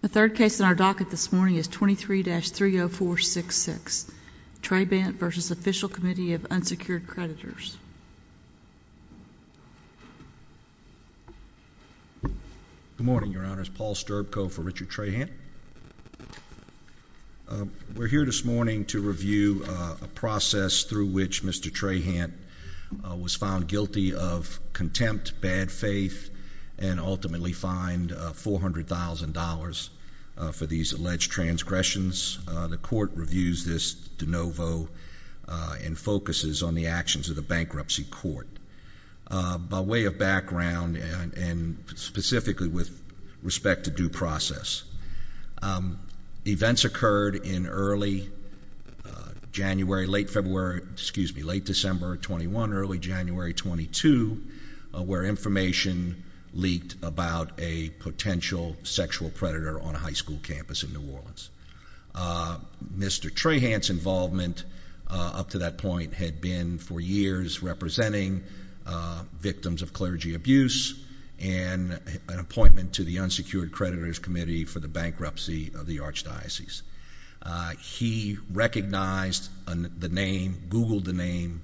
The third case in our docket this morning is 23-30466, Trahant v. Official Committee of Unsecured Creditors. Good morning, Your Honors, Paul Sterbko for Richard Trahant. We're here this morning to review a process through which Mr. Trahant was found guilty of contempt, bad faith, and ultimately fined $400,000 for these alleged transgressions. The Court reviews this de novo and focuses on the actions of the Bankruptcy Court. By way of background and specifically with respect to due process, events occurred in early January, late February, excuse me, late December of 21, early January 22, where information leaked about a potential sexual predator on a high school campus in New Orleans. Mr. Trahant's involvement up to that point had been for years representing victims of clergy abuse and an appointment to the Unsecured Creditors Committee for the bankruptcy of the Archdiocese. He recognized the name, googled the name,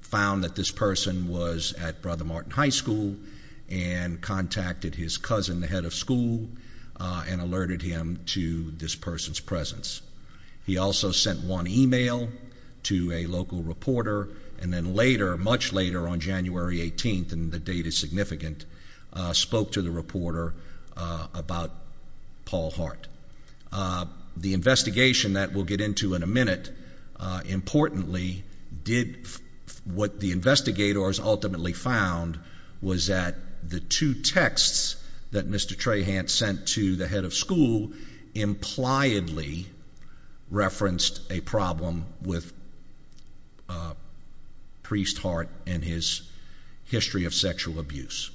found that this person was at Brother Martin High School and contacted his cousin, the head of school, and alerted him to this person's presence. He also sent one email to a local reporter and then later, much later on January 18th, and the date is significant, spoke to the reporter about Paul Hart. The investigation that we'll get into in a minute, importantly, did what the investigators ultimately found was that the two texts that Mr. Trahant sent to the head of school impliedly referenced a problem with Priest Hart and his history of sexual abuse.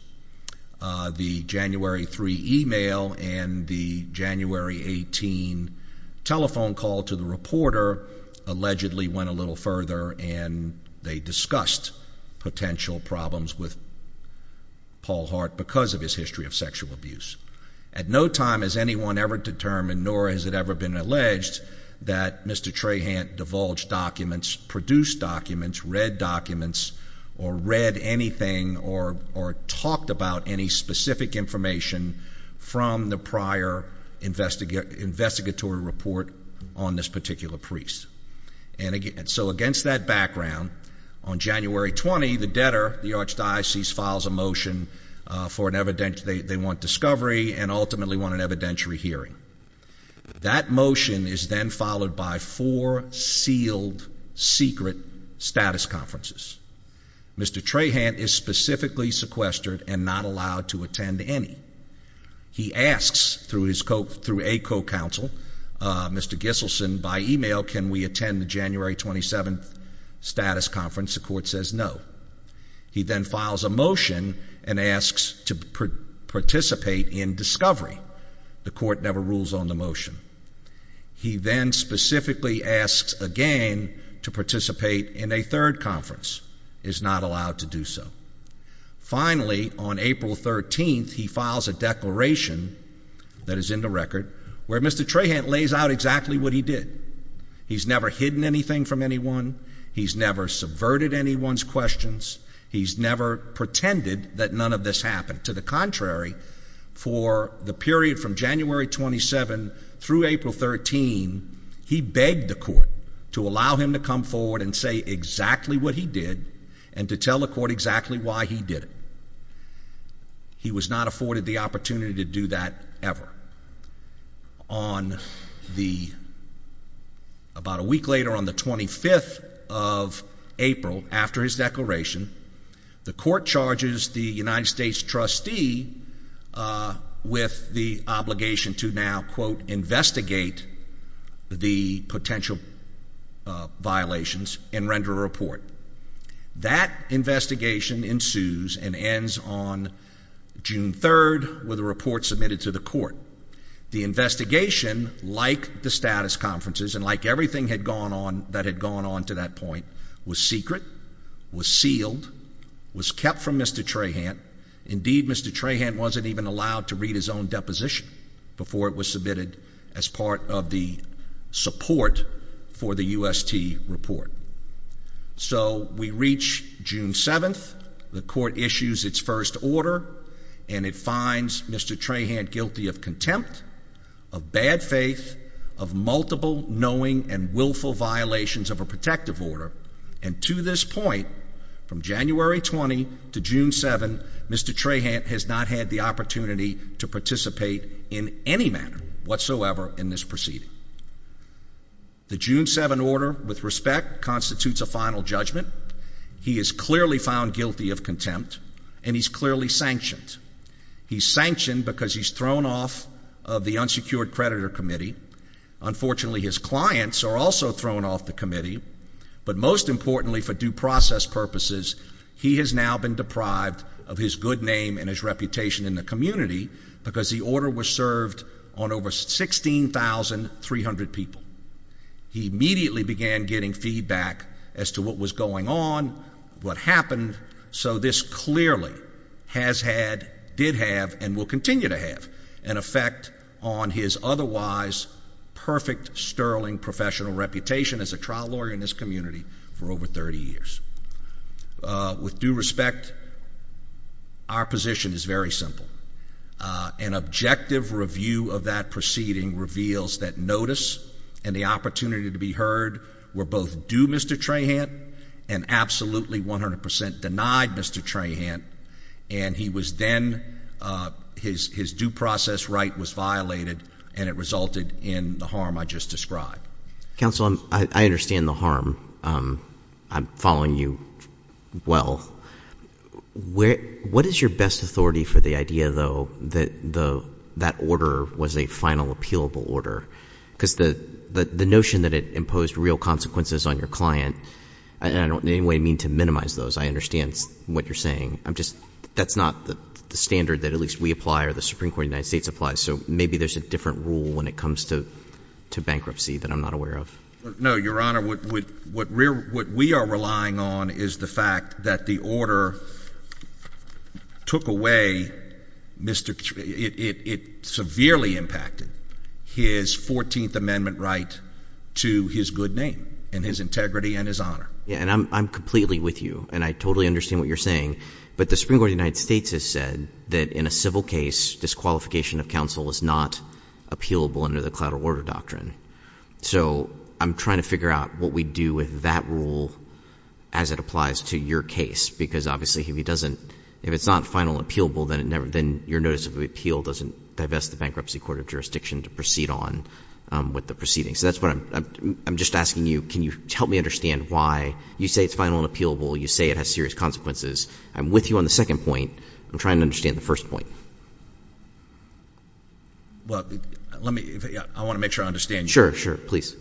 The January 3 email and the January 18 telephone call to the reporter allegedly went a little further and they discussed potential problems with Paul Hart because of his history of sexual abuse. At no time has anyone ever determined, nor has it ever been alleged, that Mr. Trahant divulged documents, produced documents, read documents, or read anything or talked about any specific information from the prior investigatory report on this particular priest. And so against that background, on January 20, the debtor, the Archdiocese, files a motion for an evidentiary, they want discovery and ultimately want an evidentiary hearing. That motion is then followed by four sealed, secret status conferences. Mr. Trahant is specifically sequestered and not allowed to attend any. He asks through a co-counsel, Mr. Gisselsen, by email, can we attend the January 27 status conference? The court says no. He then files a motion and asks to participate in discovery. The court never rules on the motion. He then specifically asks again to participate in a third conference, is not allowed to do so. Finally, on April 13, he files a declaration that is in the record where Mr. Trahant lays out exactly what he did. He's never hidden anything from anyone. He's never subverted anyone's questions. He's never pretended that none of this happened. To the contrary, for the period from January 27 through April 13, he begged the court to allow him to come forward and say exactly what he did and to tell the court exactly why he did it. He was not afforded the opportunity to do that ever. About a week later, on the 25th of April, after his declaration, the court charges the The investigation, like the status conferences and like everything that had gone on to that point, was secret, was sealed, was kept from Mr. Trahant. Indeed, Mr. Trahant wasn't even allowed to read his own deposition before it was submitted as part of the support for the UST report. So we reach June 7th, the court issues its first order, and it finds Mr. Trahant guilty of contempt, of bad faith, of multiple knowing and willful violations of a protective order. And to this point, from January 20 to June 7, Mr. Trahant has not had the opportunity to participate in any manner whatsoever in this proceeding. The June 7 order, with respect, constitutes a final judgment. He is clearly found guilty of contempt, and he's clearly sanctioned. He's sanctioned because he's thrown off of the unsecured creditor committee. Unfortunately, his clients are also thrown off the committee. But most importantly, for due process purposes, he has now been deprived of his good name and his reputation in the community because the order was served on over 16,300 people. He immediately began getting feedback as to what was going on, what happened. So this clearly has had, did have, and will continue to have an effect on his otherwise perfect, sterling professional reputation as a trial lawyer in this community for over 30 years. With due respect, our position is very simple. An objective review of that proceeding reveals that notice and the opportunity to be heard were both due Mr. Trahant and absolutely 100 percent denied Mr. Trahant. And he was then, his due process right was violated, and it resulted in the harm I just described. Counsel, I understand the harm. I'm following you well. What is your best authority for the idea, though, that that order was a final appealable order? Because the notion that it imposed real consequences on your client, and I don't in any way mean to minimize those. I understand what you're saying. I'm just, that's not the standard that at least we apply or the Supreme Court of the United States applies. So maybe there's a different rule when it comes to bankruptcy that I'm not aware of. No, Your Honor, what we are relying on is the fact that the order took away, it severely impacted his 14th Amendment right to his good name and his integrity and his honor. And I'm completely with you, and I totally understand what you're saying. But the Supreme Court of the United States has said that in a civil case, disqualification of counsel is not appealable under the collateral order doctrine. So I'm trying to figure out what we do with that rule as it applies to your case, because obviously if it doesn't, if it's not final and appealable, then your notice of appeal doesn't divest the Bankruptcy Court of Jurisdiction to proceed on with the proceedings. So that's what I'm, I'm just asking you, can you help me understand why you say it's final and appealable, you say it has serious consequences. I'm with you on the second point. I'm trying to understand the first point. Well, let me, I want to make sure I understand you. Sure, sure, please.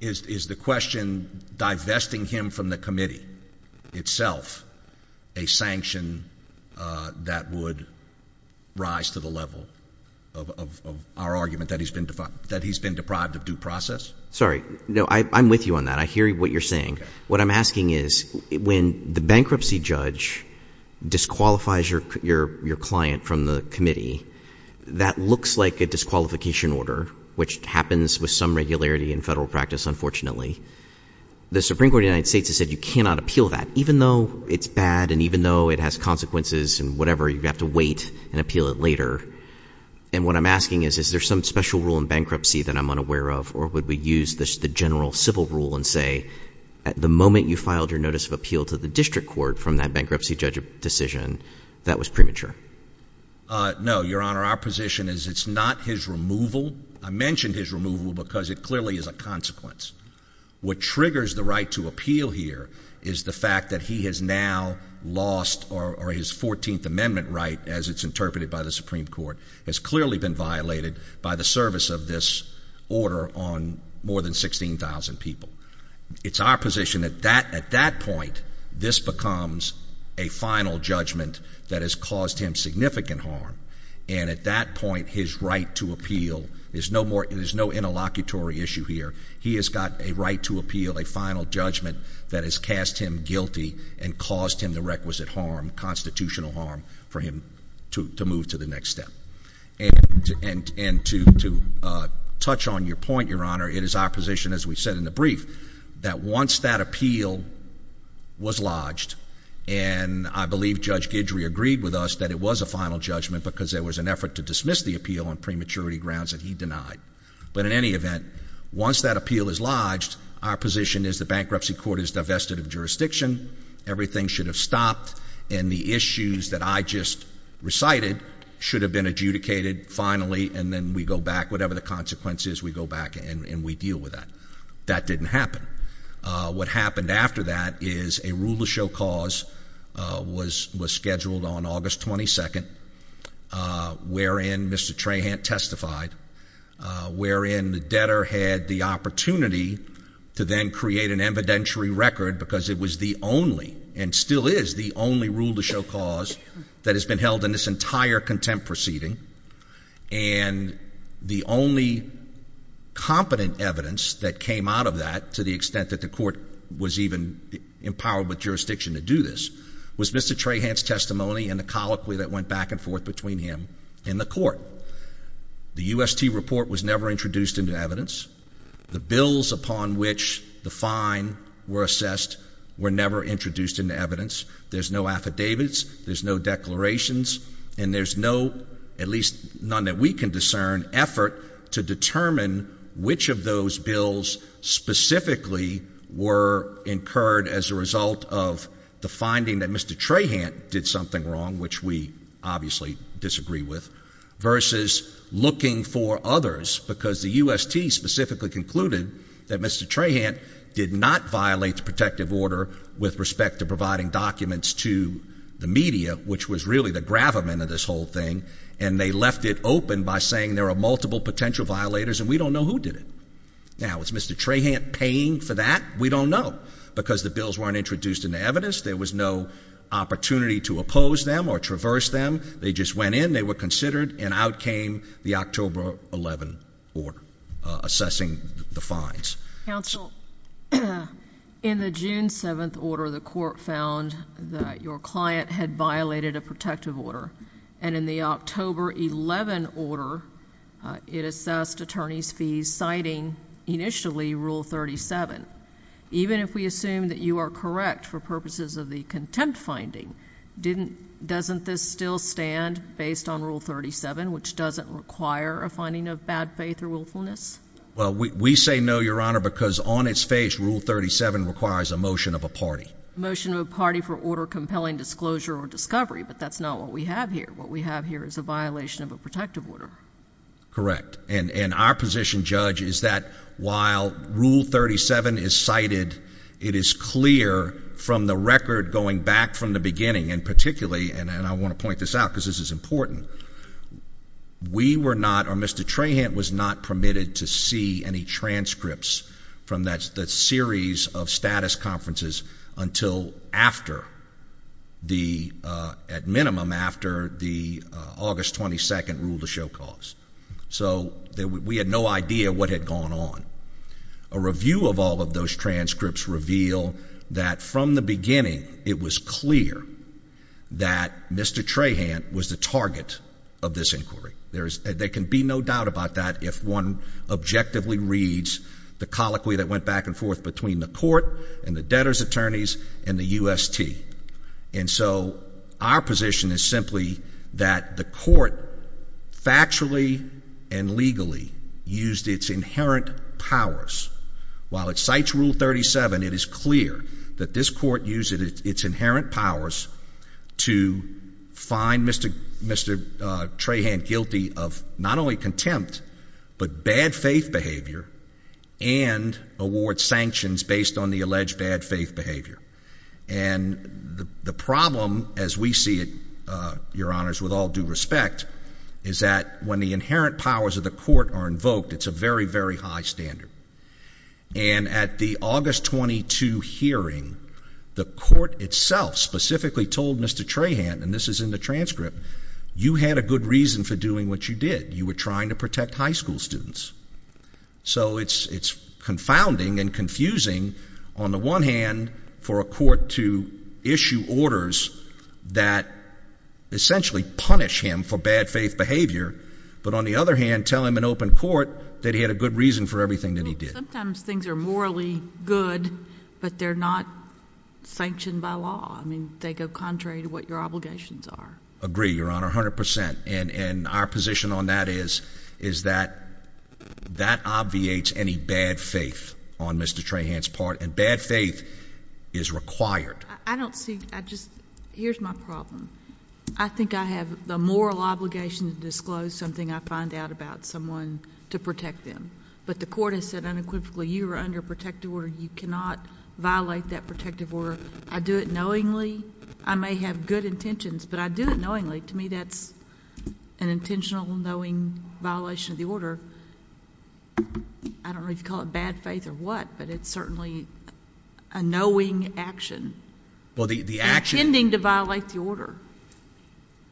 Is the question divesting him from the committee itself a sanction that would rise to the level of our argument that he's been deprived of due process? Sorry, no, I'm with you on that. I hear what you're saying. What I'm asking is, when the bankruptcy judge disqualifies your client from the committee, that looks like a disqualification order, which happens with some regularity in Federal practice, unfortunately. The Supreme Court of the United States has said you cannot appeal that, even though it's bad and even though it has consequences and whatever, you have to wait and appeal it later. And what I'm asking is, is there some special rule in bankruptcy that I'm unaware of, or would we use the general civil rule and say, at the moment you filed your notice of appeal to the district court from that bankruptcy judge decision, that was premature? No, Your Honor, our position is it's not his removal. I mentioned his removal because it clearly is a consequence. What triggers the right to appeal here is the fact that he has now lost, or his 14th amendment right, as it's interpreted by the Supreme Court, has clearly been violated by the service of this order on more than 16,000 people. It's our position that at that point, this becomes a final judgment that has caused him significant harm, and at that point, his right to appeal, there's no interlocutory issue here. He has got a right to appeal, a final judgment that has cast him guilty and caused him the requisite harm, constitutional harm, for him to move to the next step. And to touch on your point, Your Honor, it is our position, as we said in the brief, that once that appeal was lodged, and I believe Judge Guidry agreed with us that it was a final judgment because there was an effort to dismiss the appeal on prematurity grounds that he denied. But in any event, once that appeal is lodged, our position is the bankruptcy court is divested of jurisdiction, everything should have stopped, and the issues that I just recited should have been adjudicated finally, and then we go back, whatever the consequences, we go back and we deal with that. That didn't happen. What happened after that is a rule of show cause was scheduled on August 22nd, wherein Mr. Trahant testified, wherein the debtor had the opportunity to then create an evidentiary record because it was the only, and still is the only, rule of show cause that has been held in this entire contempt proceeding, and the only competent evidence that came out of that, to the extent that the court was even empowered by jurisdiction to do this, was Mr. Trahant's testimony and the colloquy that went back and forth between him and the court. The UST report was never introduced into evidence. The bills upon which the fine were assessed were never introduced into evidence. There's no affidavits, there's no declarations, and there's no, at least none that we can discern, effort to determine which of those bills specifically were incurred as a result of the finding that Mr. Trahant did something wrong, which we obviously disagree with, versus looking for others, because the UST specifically concluded that Mr. Trahant did not violate the protective order with respect to providing documents to the media, which was really the gravamen of this whole thing, and they left it open by saying there are multiple potential violators and we don't know who did it. Now, is Mr. Trahant paying for that? We don't know, because the bills weren't introduced into evidence, there was no opportunity to oppose them or traverse them, they just went in, they were considered, and out came the October 11 order assessing the fines. Counsel, in the June 7th order, the court found that your client had violated a protective order, and in the October 11 order, it assessed attorney's fees citing, initially, Rule 37. Even if we assume that you are correct for purposes of the contempt finding, doesn't this still stand based on Rule 37, which doesn't require a finding of bad faith or willfulness? Well, we say no, Your Honor, because on its face, Rule 37 requires a motion of a party. Motion of a party for order compelling disclosure or discovery, but that's not what we have here. What we have here is a violation of a protective order. Correct. And our position, Judge, is that while Rule 37 is cited, it is clear from the record going back from the beginning, and particularly, and I want to point this out because this is important, we were not, or Mr. Trahant was not permitted to see any transcripts from that series of status conferences until after the, at minimum, after the August 22nd rule to show cause. So we had no idea what had gone on. A review of all of those transcripts reveal that from the beginning, it was clear that Mr. Trahant was the target of this inquiry. There can be no doubt about that if one objectively reads the colloquy that went back and forth between the court and the debtor's attorneys and the UST. And so our position is simply that the court factually and legally used its inherent powers. While it cites Rule 37, it is clear that this court used its inherent powers to find Mr. Trahant guilty of not only contempt, but bad faith behavior and award sanctions based on the alleged bad faith behavior. And the problem, as we see it, Your Honors, with all due respect, is that when the inherent powers of the court are invoked, it's a very, very high standard. And at the August 22 hearing, the court itself specifically told Mr. Trahant, and this is in the transcript, you had a good reason for doing what you did. You were trying to protect high school students. So it's confounding and confusing on the one hand for a court to issue orders that essentially punish him for bad faith behavior, but on the other hand, tell him in open court that he had a good reason for everything that he did. Sometimes things are morally good, but they're not sanctioned by law. I mean, they go contrary to what your obligations are. Agree, Your Honor, 100 percent. And our position on that is that that obviates any bad faith on Mr. Trahant's part, and bad faith is required. I don't see – I just – here's my problem. I think I have the moral obligation to disclose something I find out about someone to protect them. But the court has said unequivocally, you are under a protective order, you cannot violate that protective order. I do it knowingly. I may have good intentions, but I do it knowingly. To me, that's an intentional, knowing violation of the order. I don't know if you call it bad faith or what, but it's certainly a knowing action. Well, the action – You violate the order.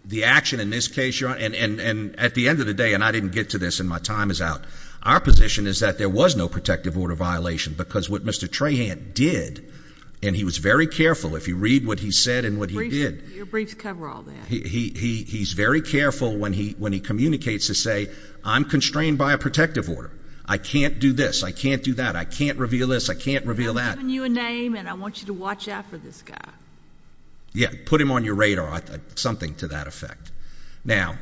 The action in this case, Your Honor – and at the end of the day – and I didn't get to this and my time is out – our position is that there was no protective order violation because what Mr. Trahant did – and he was very careful if you read what he said and what he did – Your briefs cover all that. He's very careful when he communicates to say, I'm constrained by a protective order. I can't do this. I can't do that. I can't reveal this. I can't reveal that. I'm giving you a name, and I want you to watch out for this guy. Yeah, put him on your radar. Something to that effect. Now,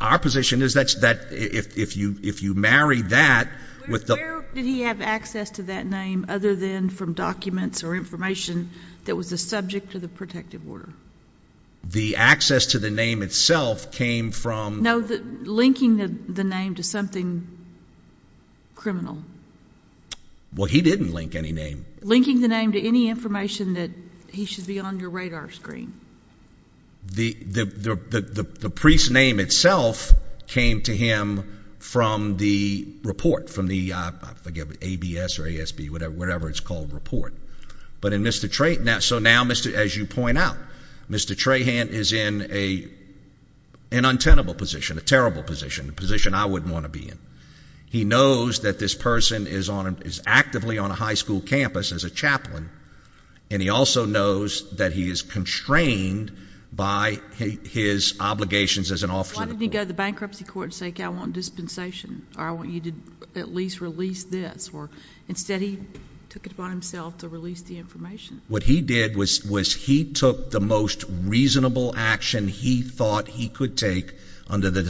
our position is that if you marry that with the – Where did he have access to that name other than from documents or information that was the subject of the protective order? The access to the name itself came from – No, linking the name to something criminal. Well, he didn't link any name. Linking the name to any information that he should be on your radar screen. The priest's name itself came to him from the report, from the – I forget, ABS or ASB, whatever it's called – report. But in Mr. Trahant – so now, as you point out, Mr. Trahant is in an untenable position, a terrible position, a position I wouldn't want to be in. He knows that this person is on – is actively on a high school campus as a chaplain, and he also knows that he is constrained by his obligations as an officer of the court. Why didn't he go to the bankruptcy court and say, okay, I want dispensation, or I want you to at least release this? Or instead, he took it upon himself to release the information. What he did was he took the most reasonable action he thought he could take under the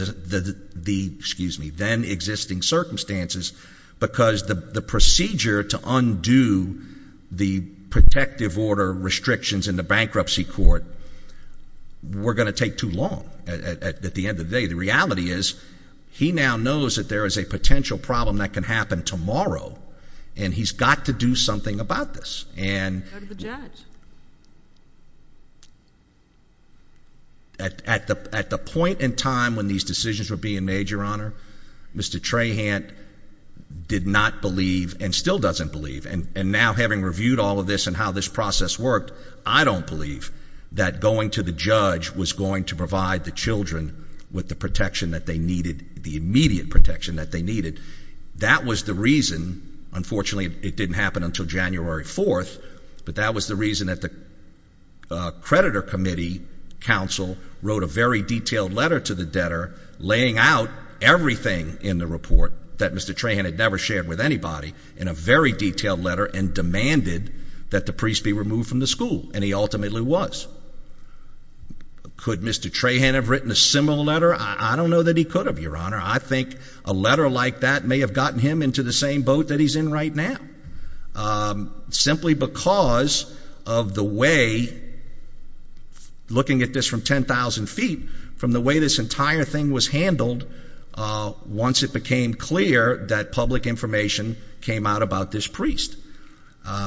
then-existing circumstances, because the procedure to undo the protective order restrictions in the bankruptcy court were going to take too long at the end of the day. The reality is, he now knows that there is a potential problem that can happen tomorrow, and he's got to do something about this. Go to the judge. At the point in time when these decisions were being made, Your Honor, Mr. Trahant did not believe, and still doesn't believe – and now, having reviewed all of this and how this process worked, I don't believe that going to the judge was going to provide the children with the protection that they needed, the immediate protection that they needed. That was the reason – unfortunately, it didn't happen until January 4th – but that the creditor committee counsel wrote a very detailed letter to the debtor laying out everything in the report that Mr. Trahant had never shared with anybody in a very detailed letter and demanded that the priest be removed from the school, and he ultimately was. Could Mr. Trahant have written a similar letter? I don't know that he could have, Your Honor. I think a letter like that may have gotten him into the same boat that he's in right now, simply because of the way – looking at this from 10,000 feet – from the way this entire thing was handled once it became clear that public information came out about this priest. I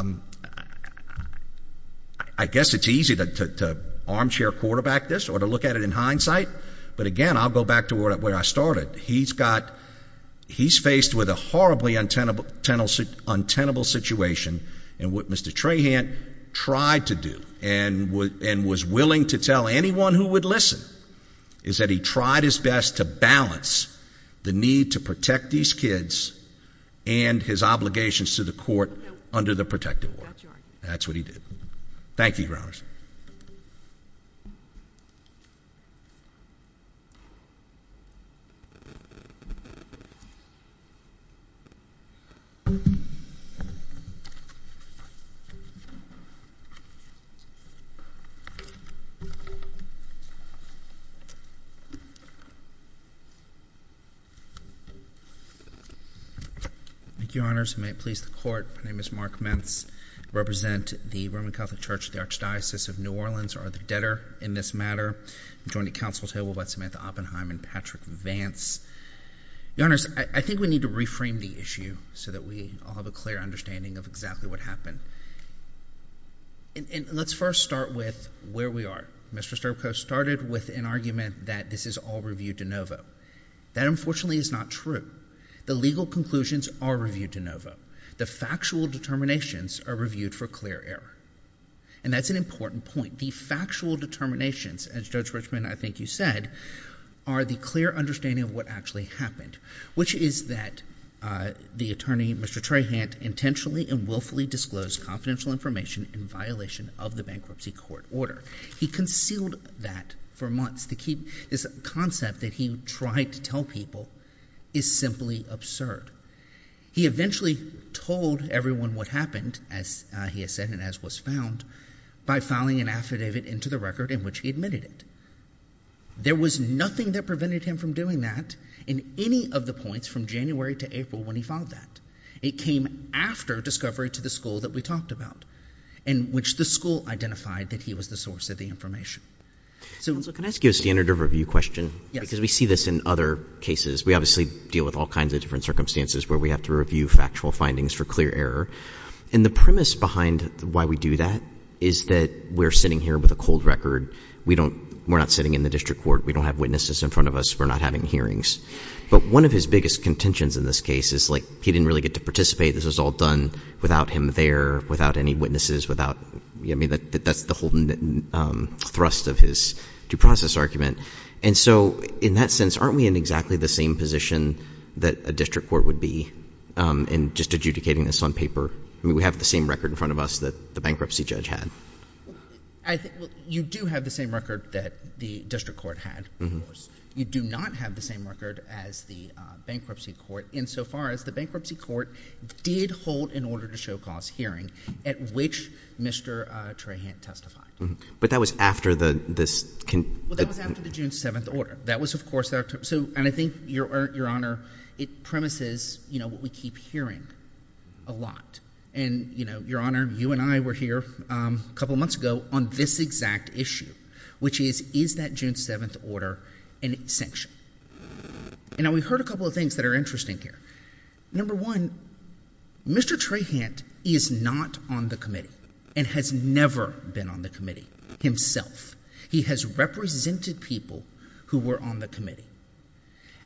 guess it's easy to armchair quarterback this or to look at it in hindsight, but again, I'll go back to where I started. He's faced with a horribly untenable situation, and what Mr. Trahant tried to do and was willing to tell anyone who would listen is that he tried his best to balance the need to protect these kids and his obligations to the court under the protective order. Thank you, Your Honors. May it please the Court, my name is Mark Mentz. I represent the Roman Catholic Church, the Archdiocese of New Orleans, or the debtor in this matter. I'm joined at counsel's table by Samantha Oppenheim and Patrick Vance. Your Honors, I think we need to reframe the issue so that we all have a clear understanding of exactly what happened. Let's first start with where we are. Mr. Sterbko started with an argument that this is all review de novo. That unfortunately is not true. The legal conclusions are review de novo. The factual determinations are reviewed for clear error. And that's an important point. The factual determinations, as Judge Richmond, I think you said, are the clear understanding of what actually happened, which is that the attorney, Mr. Trahant, intentionally and willfully disclosed confidential information in violation of the bankruptcy court order. He concealed that for months. This concept that he tried to tell people is simply absurd. He eventually told everyone what happened, as he has said and as was found, by filing an affidavit into the record in which he admitted it. There was nothing that prevented him from doing that in any of the points from January to April when he filed that. It came after discovery to the school that we talked about, in which the school identified that he was the source of the information. So... Counsel, can I ask you a standard of review question? Yes. Because we see this in other cases. We obviously deal with all kinds of different circumstances where we have to review factual findings for clear error. And the premise behind why we do that is that we're sitting here with a cold record. We don't... We're not sitting in the district court. We don't have witnesses in front of us. We're not having hearings. But one of his biggest contentions in this case is, like, he didn't really get to participate. This was all done without him there, without any witnesses, without... I mean, that's the whole thrust of his due process argument. And so, in that sense, aren't we in exactly the same position that a district court would be in just adjudicating this on paper? I mean, we have the same record in front of us that the bankruptcy judge had. You do have the same record that the district court had, of course. You do not have the same record as the bankruptcy court insofar as the bankruptcy court did hold an order to show cause hearing at which Mr. Trahant testified. But that was after the... Well, that was after the June 7th order. That was, of course... So, and I think, Your Honor, it premises, you know, what we keep hearing a lot. And you know, Your Honor, you and I were here a couple of months ago on this exact issue, which is, is that June 7th order a sanction? And we heard a couple of things that are interesting here. Number one, Mr. Trahant is not on the committee and has never been on the committee himself. He has represented people who were on the committee,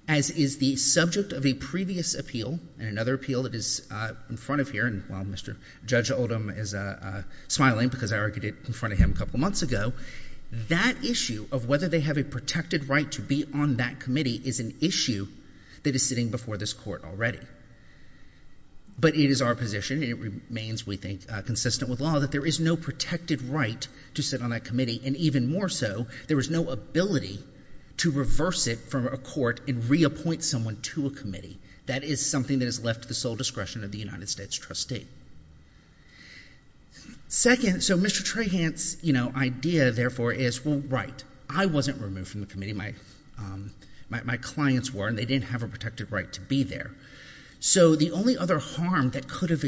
as is the subject of a previous appeal and another appeal that is in front of here. And while Mr. Judge Oldham is smiling because I argued it in front of him a couple of months ago, that issue of whether they have a protected right to be on that committee is an issue that is sitting before this court already. But it is our position, and it remains, we think, consistent with law, that there is no protected right to sit on that committee, and even more so, there is no ability to reverse it from a court and reappoint someone to a committee. That is something that is left to the sole discretion of the United States trustee. Second, so Mr. Trahant's, you know, idea, therefore, is, well, right. I wasn't removed from the committee. My clients were, and they didn't have a protected right to be there. So the only other harm that could have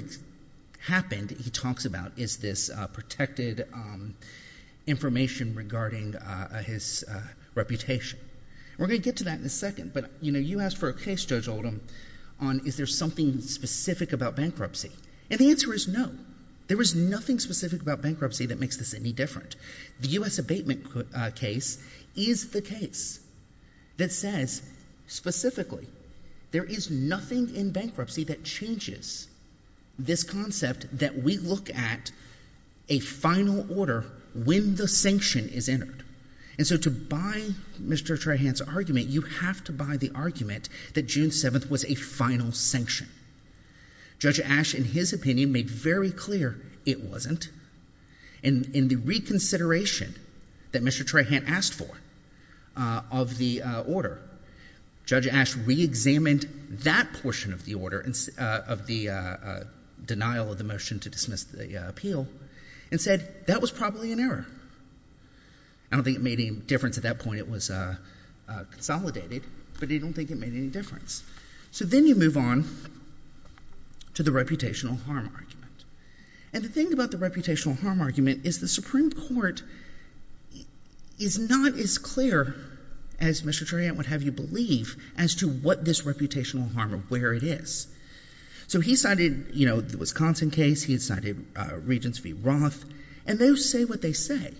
happened, he talks about, is this protected information regarding his reputation. We're going to get to that in a second, but, you know, you asked for a case, Judge Oldham, on is there something specific about bankruptcy, and the answer is no. There is nothing specific about bankruptcy that makes this any different. The U.S. abatement case is the case that says, specifically, there is nothing in bankruptcy that changes this concept that we look at a final order when the sanction is entered. And so to buy Mr. Trahant's argument, you have to buy the argument that June 7th was a final sanction. Judge Ash, in his opinion, made very clear it wasn't. In the reconsideration that Mr. Trahant asked for of the order, Judge Ash reexamined that portion of the order, of the denial of the motion to dismiss the appeal, and said, that was probably an error. I don't think it made any difference at that point. It was consolidated, but I don't think it made any difference. So then you move on to the reputational harm argument. And the thing about the reputational harm argument is the Supreme Court is not as clear as Mr. Trahant would have you believe as to what this reputational harm, or where it is. So he cited, you know, the Wisconsin case, he cited Regents v. Roth, and they say what they say.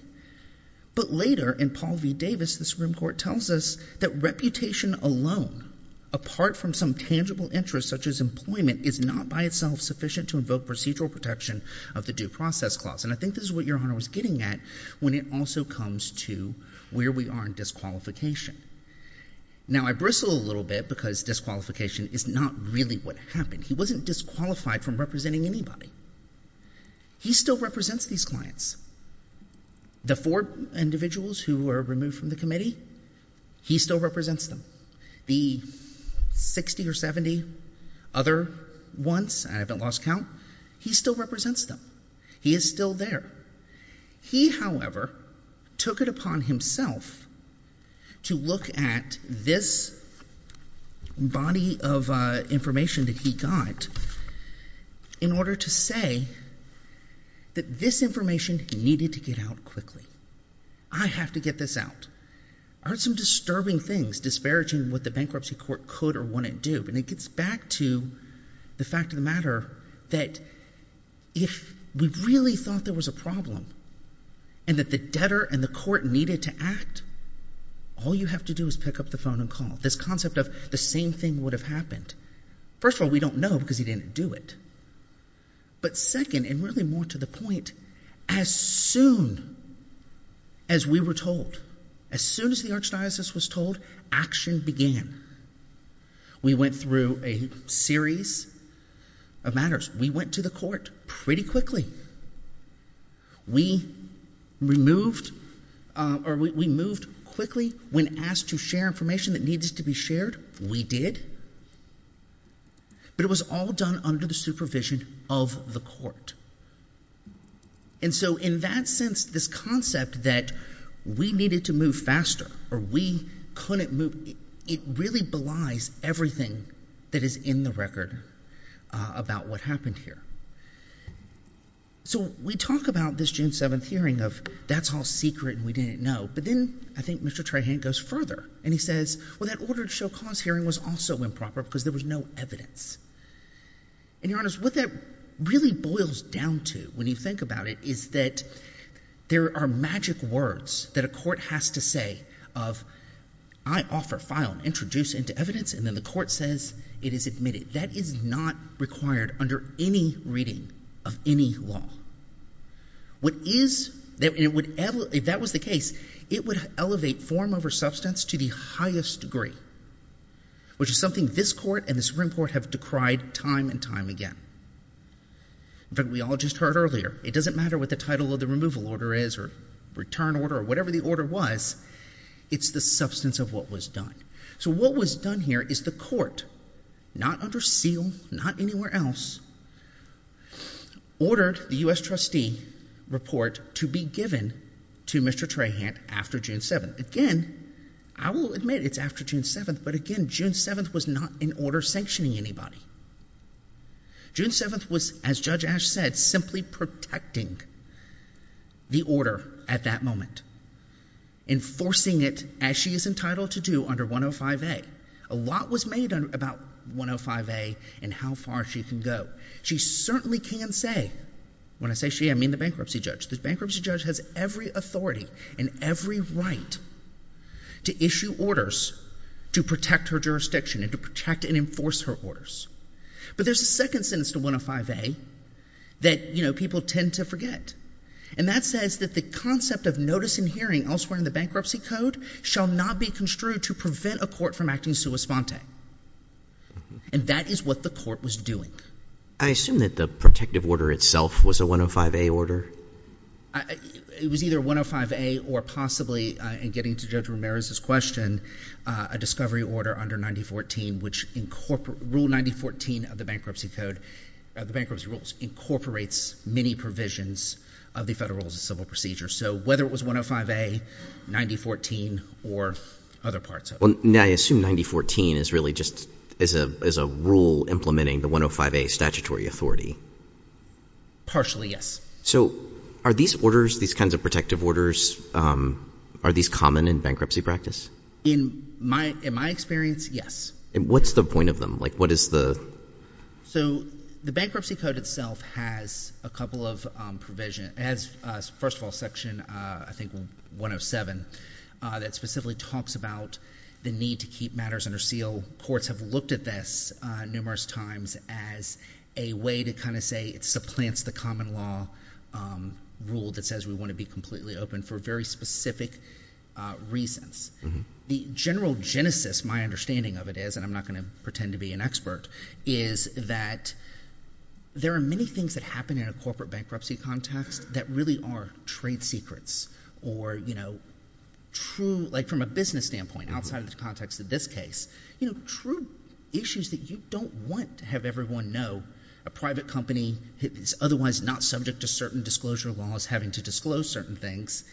But later, in Paul v. Davis, the Supreme Court tells us that reputation alone, apart from some tangible interest such as employment, is not by itself sufficient to invoke procedural protection of the Due Process Clause. And I think this is what Your Honor was getting at when it also comes to where we are in disqualification. Now I bristle a little bit because disqualification is not really what happened. He wasn't disqualified from representing anybody. He still represents these clients. The four individuals who were removed from the committee, he still represents them. The 60 or 70 other ones, I haven't lost count, he still represents them. He is still there. He however, took it upon himself to look at this body of information that he got in order to say that this information needed to get out quickly. I have to get this out. I heard some disturbing things disparaging what the bankruptcy court could or wouldn't do. And it gets back to the fact of the matter that if we really thought there was a problem and that the debtor and the court needed to act, all you have to do is pick up the phone and call. This concept of the same thing would have happened. First of all, we don't know because he didn't do it. But second, and really more to the point, as soon as we were told, as soon as the Archdiocese was told, action began. We went through a series of matters. We went to the court pretty quickly. We moved quickly when asked to share information that needed to be shared. We did. But it was all done under the supervision of the court. And so in that sense, this concept that we needed to move faster or we couldn't move, it really belies everything that is in the record about what happened here. So we talk about this June 7th hearing of that's all secret and we didn't know. But then I think Mr. Trahant goes further and he says, well, that ordered show cause hearing was also improper because there was no evidence. And Your Honor, what that really boils down to when you think about it is that there are magic words that a court has to say of I offer, file, introduce into evidence, and then the court says it is admitted. That is not required under any reading of any law. What is, if that was the case, it would elevate form over substance to the highest degree, which is something this court and the Supreme Court have decried time and time again. In fact, we all just heard earlier, it doesn't matter what the title of the removal order is or return order or whatever the order was, it's the substance of what was done. So what was done here is the court, not under seal, not anywhere else, ordered the US trustee report to be given to Mr. Trahant after June 7th. Again, I will admit it's after June 7th, but again, June 7th was not an order sanctioning anybody. June 7th was, as Judge Ash said, simply protecting the order at that moment, enforcing it as she is entitled to do under 105A. A lot was made about 105A and how far she can go. She certainly can say, when I say she, I mean the bankruptcy judge. The bankruptcy judge has every authority and every right to issue orders to protect her jurisdiction and to protect and enforce her orders. But there's a second sentence to 105A that people tend to forget, and that says that the concept of notice and hearing elsewhere in the bankruptcy code shall not be construed to prevent a court from acting sua sponte. And that is what the court was doing. I assume that the protective order itself was a 105A order? It was either 105A or possibly, in getting to Judge Ramirez's question, a discovery order under 9014, which rule 9014 of the bankruptcy code, the bankruptcy rules, incorporates many possible procedures. So whether it was 105A, 9014, or other parts of it. I assume 9014 is really just, is a rule implementing the 105A statutory authority. Partially, yes. So are these orders, these kinds of protective orders, are these common in bankruptcy practice? In my experience, yes. What's the point of them? What is the... So the bankruptcy code itself has a couple of provisions. It has, first of all, section, I think, 107, that specifically talks about the need to keep matters under seal. Courts have looked at this numerous times as a way to kind of say it supplants the common law rule that says we want to be completely open for very specific reasons. The general genesis, my understanding of it is, and I'm not going to pretend to be an expert, is that there are many things that happen in a corporate bankruptcy context that really are trade secrets or true, like from a business standpoint, outside of the context of this case, true issues that you don't want to have everyone know. A private company is otherwise not subject to certain disclosure laws having to disclose certain things.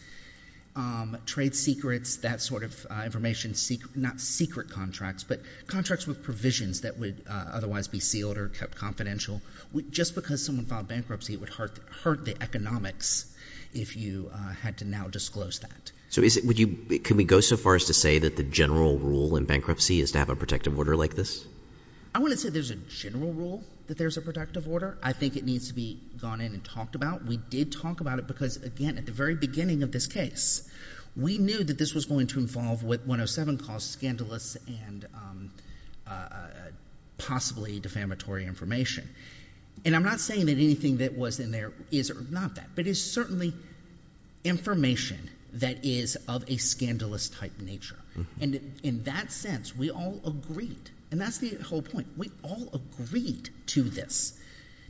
Trade secrets, that sort of information, not secret contracts, but contracts with provisions that would otherwise be sealed or kept confidential. Just because someone filed bankruptcy, it would hurt the economics if you had to now disclose that. So is it... Would you... Can we go so far as to say that the general rule in bankruptcy is to have a protective order like this? I wouldn't say there's a general rule that there's a protective order. I think it needs to be gone in and talked about. We did talk about it because, again, at the very beginning of this case, we knew that this was going to involve what 107 calls scandalous and possibly defamatory information. And I'm not saying that anything that was in there is or is not that, but it's certainly information that is of a scandalous type nature. And in that sense, we all agreed, and that's the whole point, we all agreed to this.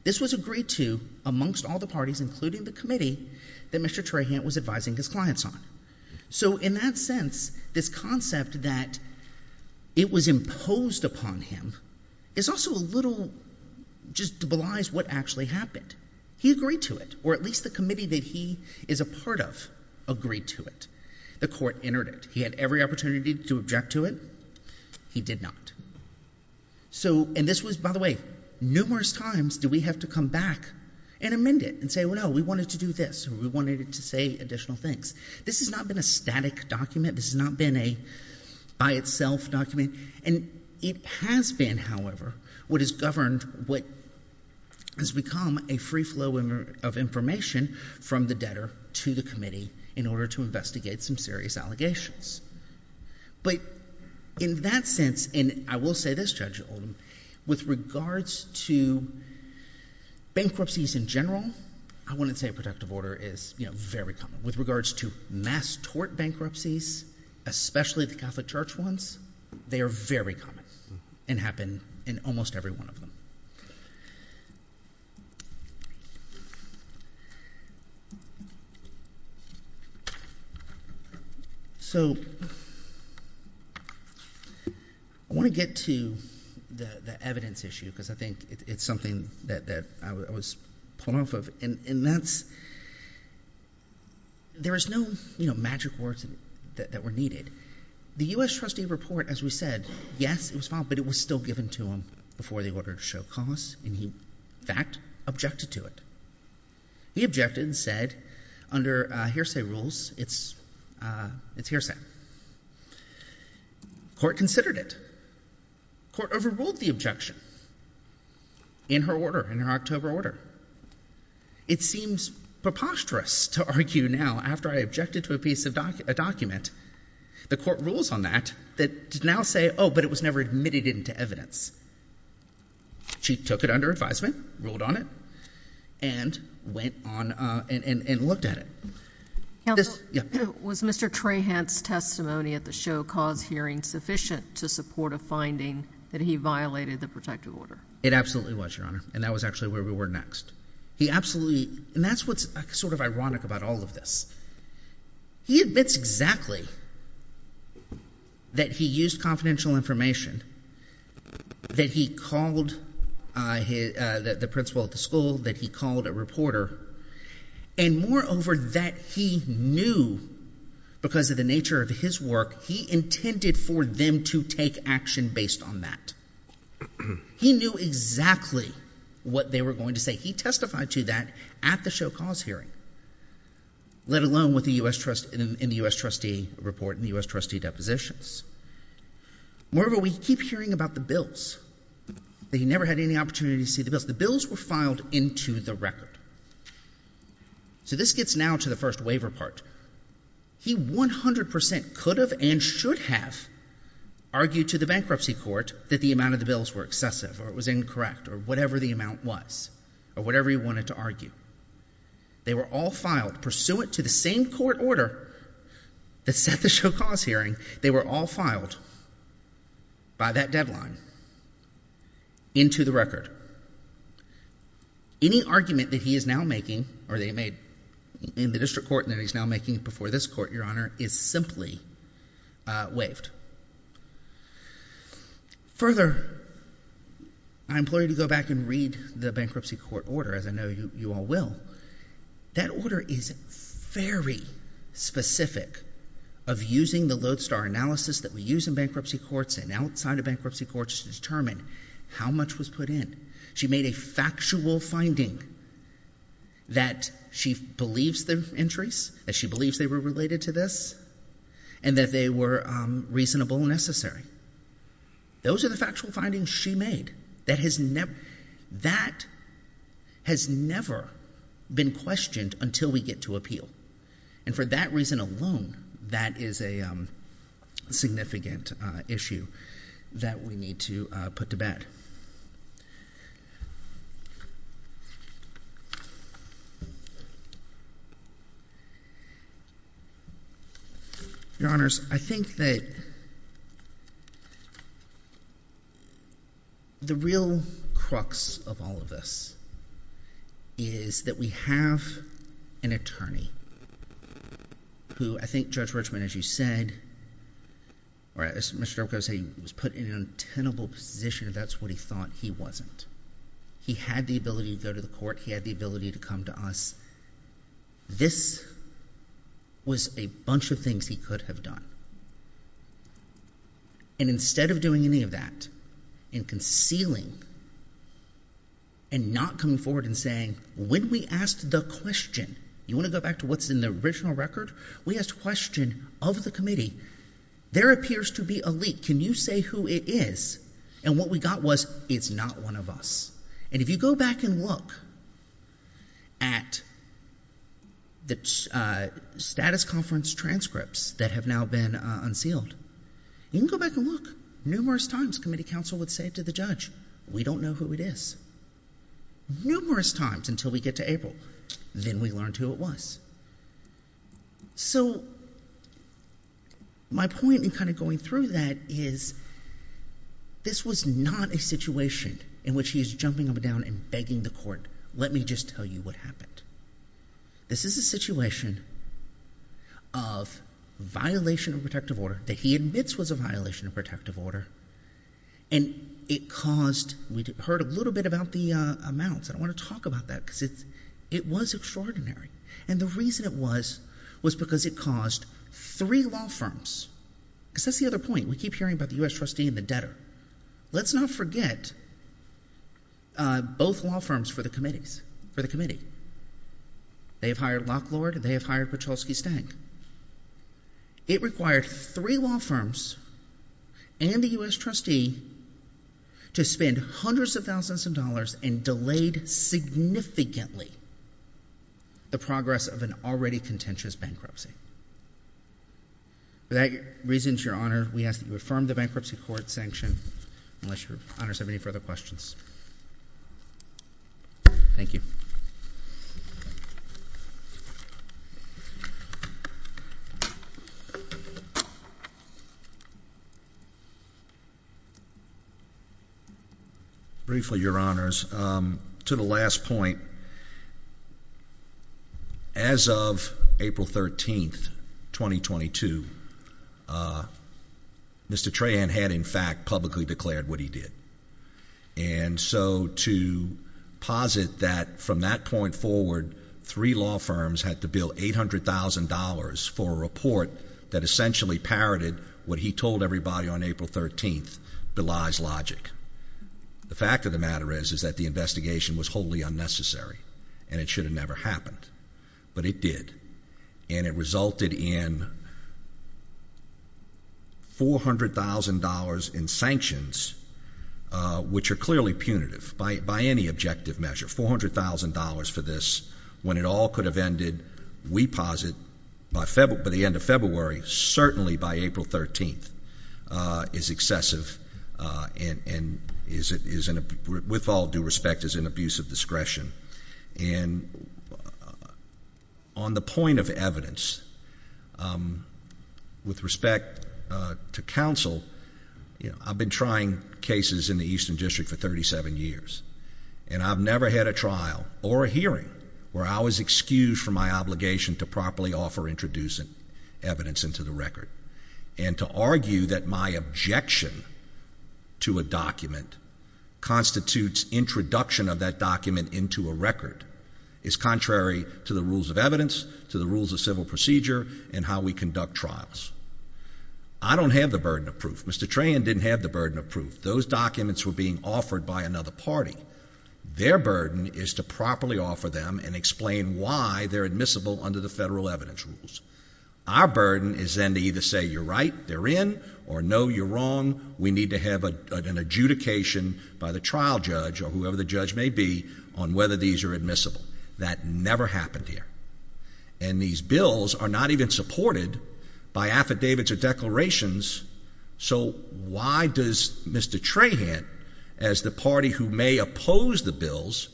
This was agreed to amongst all the parties, including the committee that Mr. Trahant was advising his clients on. So in that sense, this concept that it was imposed upon him is also a little... Just belies what actually happened. He agreed to it, or at least the committee that he is a part of agreed to it. The court entered it. He had every opportunity to object to it. He did not. So... And this was, by the way, numerous times do we have to come back and amend it and say, well, no, we wanted to do this, or we wanted to say additional things. This has not been a static document. This has not been a by-itself document. And it has been, however, what has governed, what has become a free flow of information from the debtor to the committee in order to investigate some serious allegations. But in that sense, and I will say this, Judge Oldham, with regards to bankruptcies in general, I wouldn't say a protective order is very common. With regards to mass tort bankruptcies, especially the Catholic Church ones, they are very common and happen in almost every one of them. So I want to get to the evidence issue because I think it's something that I was pulling myself of, and that's... There is no magic words that were needed. The U.S. trustee report, as we said, yes, it was filed, but it was still given to him before the order to show cause, and he, in fact, objected to it. He objected and said, under hearsay rules, it's hearsay. Court considered it. Court overruled the objection in her order, in her October order. It seems preposterous to argue now, after I objected to a piece of document, the court rules on that, that now say, oh, but it was never admitted into evidence. She took it under advisement, ruled on it, and went on and looked at it. Counsel, was Mr. Trahant's testimony at the show cause hearing sufficient to support a finding that he violated the protective order? It absolutely was, Your Honor, and that was actually where we were next. He absolutely... And that's what's sort of ironic about all of this. He admits exactly that he used confidential information, that he called the principal at the school, that he called a reporter, and moreover, that he knew, because of the nature of his work, he intended for them to take action based on that. He knew exactly what they were going to say. He testified to that at the show cause hearing, let alone in the U.S. trustee report, in the U.S. trustee depositions. Moreover, we keep hearing about the bills, that he never had any opportunity to see the bills were filed into the record. So this gets now to the first waiver part. He 100% could have and should have argued to the bankruptcy court that the amount of the bills were excessive, or it was incorrect, or whatever the amount was, or whatever he wanted to argue. They were all filed pursuant to the same court order that set the show cause hearing. They were all filed by that deadline into the record. Any argument that he is now making, or that he made in the district court and that he's now making before this court, Your Honor, is simply waived. Further, I implore you to go back and read the bankruptcy court order, as I know you all will. That order is very specific of using the Lodestar analysis that we use in bankruptcy courts and outside of bankruptcy courts to determine how much was put in. She made a factual finding that she believes the entries, that she believes they were related to this, and that they were reasonable and necessary. Those are the factual findings she made. That has never been questioned until we get to appeal. And for that reason alone, that is a significant issue that we need to put to bed. Your Honors, I think that the real crux of all of this is that we have an attorney who, I think Judge Richman, as you said, or as Mr. Durko was saying, was put in an untenable position. That's what he thought he wasn't. He had the ability to go to the court. He had the ability to come to us. This was a bunch of things he could have done. And instead of doing any of that and concealing and not coming forward and saying, when we asked the question, you want to go back to what's in the original record? We asked a question of the committee. There appears to be a leak. Can you say who it is? And what we got was, it's not one of us. And if you go back and look at the status conference transcripts that have now been unsealed, you can go back and look. Numerous times committee counsel would say to the judge, we don't know who it is. Numerous times until we get to April. Then we learned who it was. So, my point in kind of going through that is, this was not a situation in which he's jumping up and down and begging the court, let me just tell you what happened. This is a situation of violation of protective order that he admits was a violation of protective order. And it caused, we heard a little bit about the amounts. I don't want to talk about that because it was extraordinary. And the reason it was, was because it caused three law firms, because that's the other point. We keep hearing about the U.S. trustee and the debtor. Let's not forget both law firms for the committees, for the committee. They have hired Lock Lord. They have hired Piotrowski-Stang. It required three law firms and the U.S. trustee to spend hundreds of thousands of dollars and delayed significantly the progress of an already contentious bankruptcy. For that reason, Your Honor, we ask that you affirm the bankruptcy court sanction unless Your Honors have any further questions. Thank you. Briefly, Your Honors, to the last point, as of April 13, 2022, Mr. Trahan had in fact publicly declared what he did. And so to posit that from that point forward, three law firms had to bill $800,000 for a report that essentially parroted what he told everybody on April 13, Belize Logic. The fact of the matter is, is that the investigation was wholly unnecessary and it should have never happened. But it did. And it resulted in $400,000 in sanctions, which are clearly punitive by any objective measure. $400,000 for this, when it all could have ended, we posit, by the end of February, certainly by April 13th, is excessive and is, with all due respect, is an abuse of discretion. And on the point of evidence, with respect to counsel, I've been trying cases in the Eastern District for 37 years. And I've never had a trial or a hearing where I was excused from my obligation to properly offer introducing evidence into the record. And to argue that my objection to a document constitutes introduction of that document into a record is contrary to the rules of evidence, to the rules of civil procedure, and how we conduct trials. I don't have the burden of proof. Mr. Tran didn't have the burden of proof. Those documents were being offered by another party. Their burden is to properly offer them and explain why they're admissible under the federal evidence rules. Our burden is then to either say, you're right, they're in, or no, you're wrong, we need to have an adjudication by the trial judge, or whoever the judge may be, on whether these are admissible. That never happened here. And these bills are not even supported by affidavits or declarations, so why does Mr. Tran, as the party who may oppose the bills,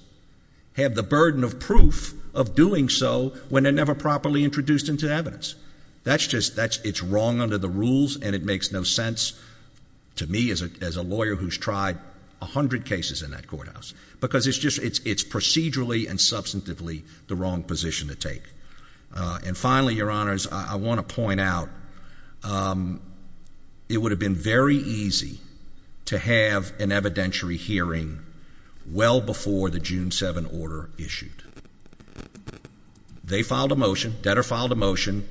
have the burden of proof of doing so when they're never properly introduced into evidence? That's just, it's wrong under the rules, and it makes no sense to me as a lawyer who's tried a hundred cases in that courthouse, because it's procedurally and substantively the wrong position to take. And finally, Your Honors, I want to point out, it would have been very easy to have an evidentiary hearing well before the June 7 order issued. They filed a motion, Detter filed a motion,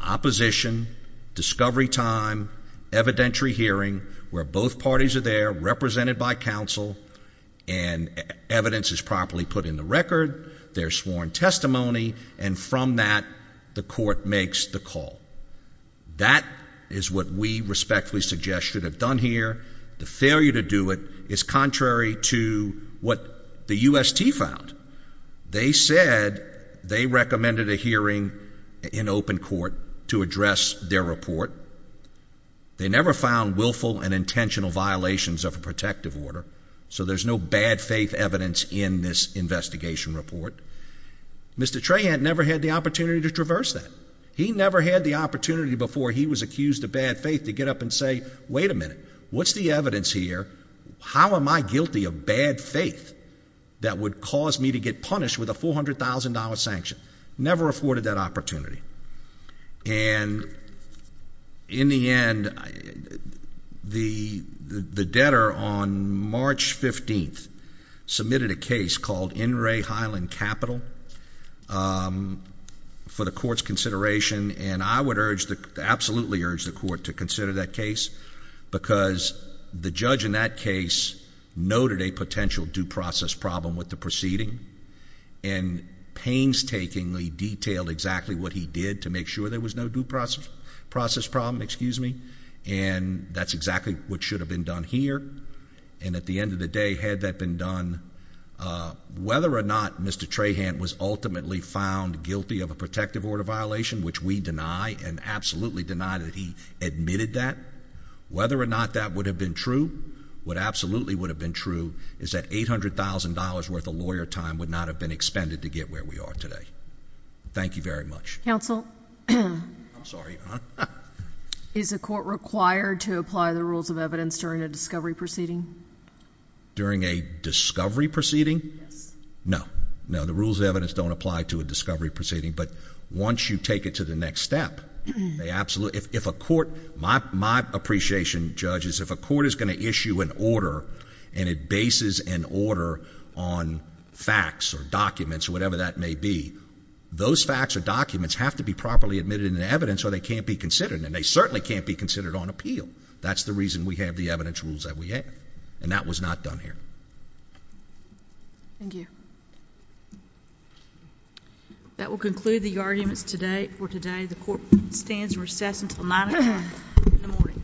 opposition, discovery time, evidentiary hearing, where both parties are there, represented by counsel, and evidence is properly put in the record, there's sworn testimony, and from that, the court makes the call. That is what we respectfully suggest should have done here. The failure to do it is contrary to what the UST found. They said they recommended a hearing in open court to address their report. They never found willful and intentional violations of a protective order, so there's no bad faith evidence in this investigation report. Mr. Tran never had the opportunity to traverse that. He never had the opportunity before he was accused of bad faith to get up and say, wait a minute, what's the evidence here? How am I guilty of bad faith that would cause me to get punished with a $400,000 sanction? Never afforded that opportunity. And in the end, the debtor on March 15th submitted a case called In Re Highland Capital for the because the judge in that case noted a potential due process problem with the proceeding and painstakingly detailed exactly what he did to make sure there was no due process problem. And that's exactly what should have been done here. And at the end of the day, had that been done, whether or not Mr. Tran was ultimately found guilty of a protective order violation, which we deny and absolutely deny that he admitted that, whether or not that would have been true, what absolutely would have been true is that $800,000 worth of lawyer time would not have been expended to get where we are today. Thank you very much. Counsel? I'm sorry, Your Honor. Is a court required to apply the rules of evidence during a discovery proceeding? During a discovery proceeding? Yes. No. No, the rules of evidence don't apply to a discovery proceeding, but once you take it to the next step, they absolutely, if a court, my appreciation, judges, if a court is going to issue an order and it bases an order on facts or documents or whatever that may be, those facts or documents have to be properly admitted in the evidence or they can't be considered, and they certainly can't be considered on appeal. That's the reason we have the evidence rules that we have, and that was not done here. Thank you. That will conclude the arguments today. The court stands recessed until 9 o'clock in the morning.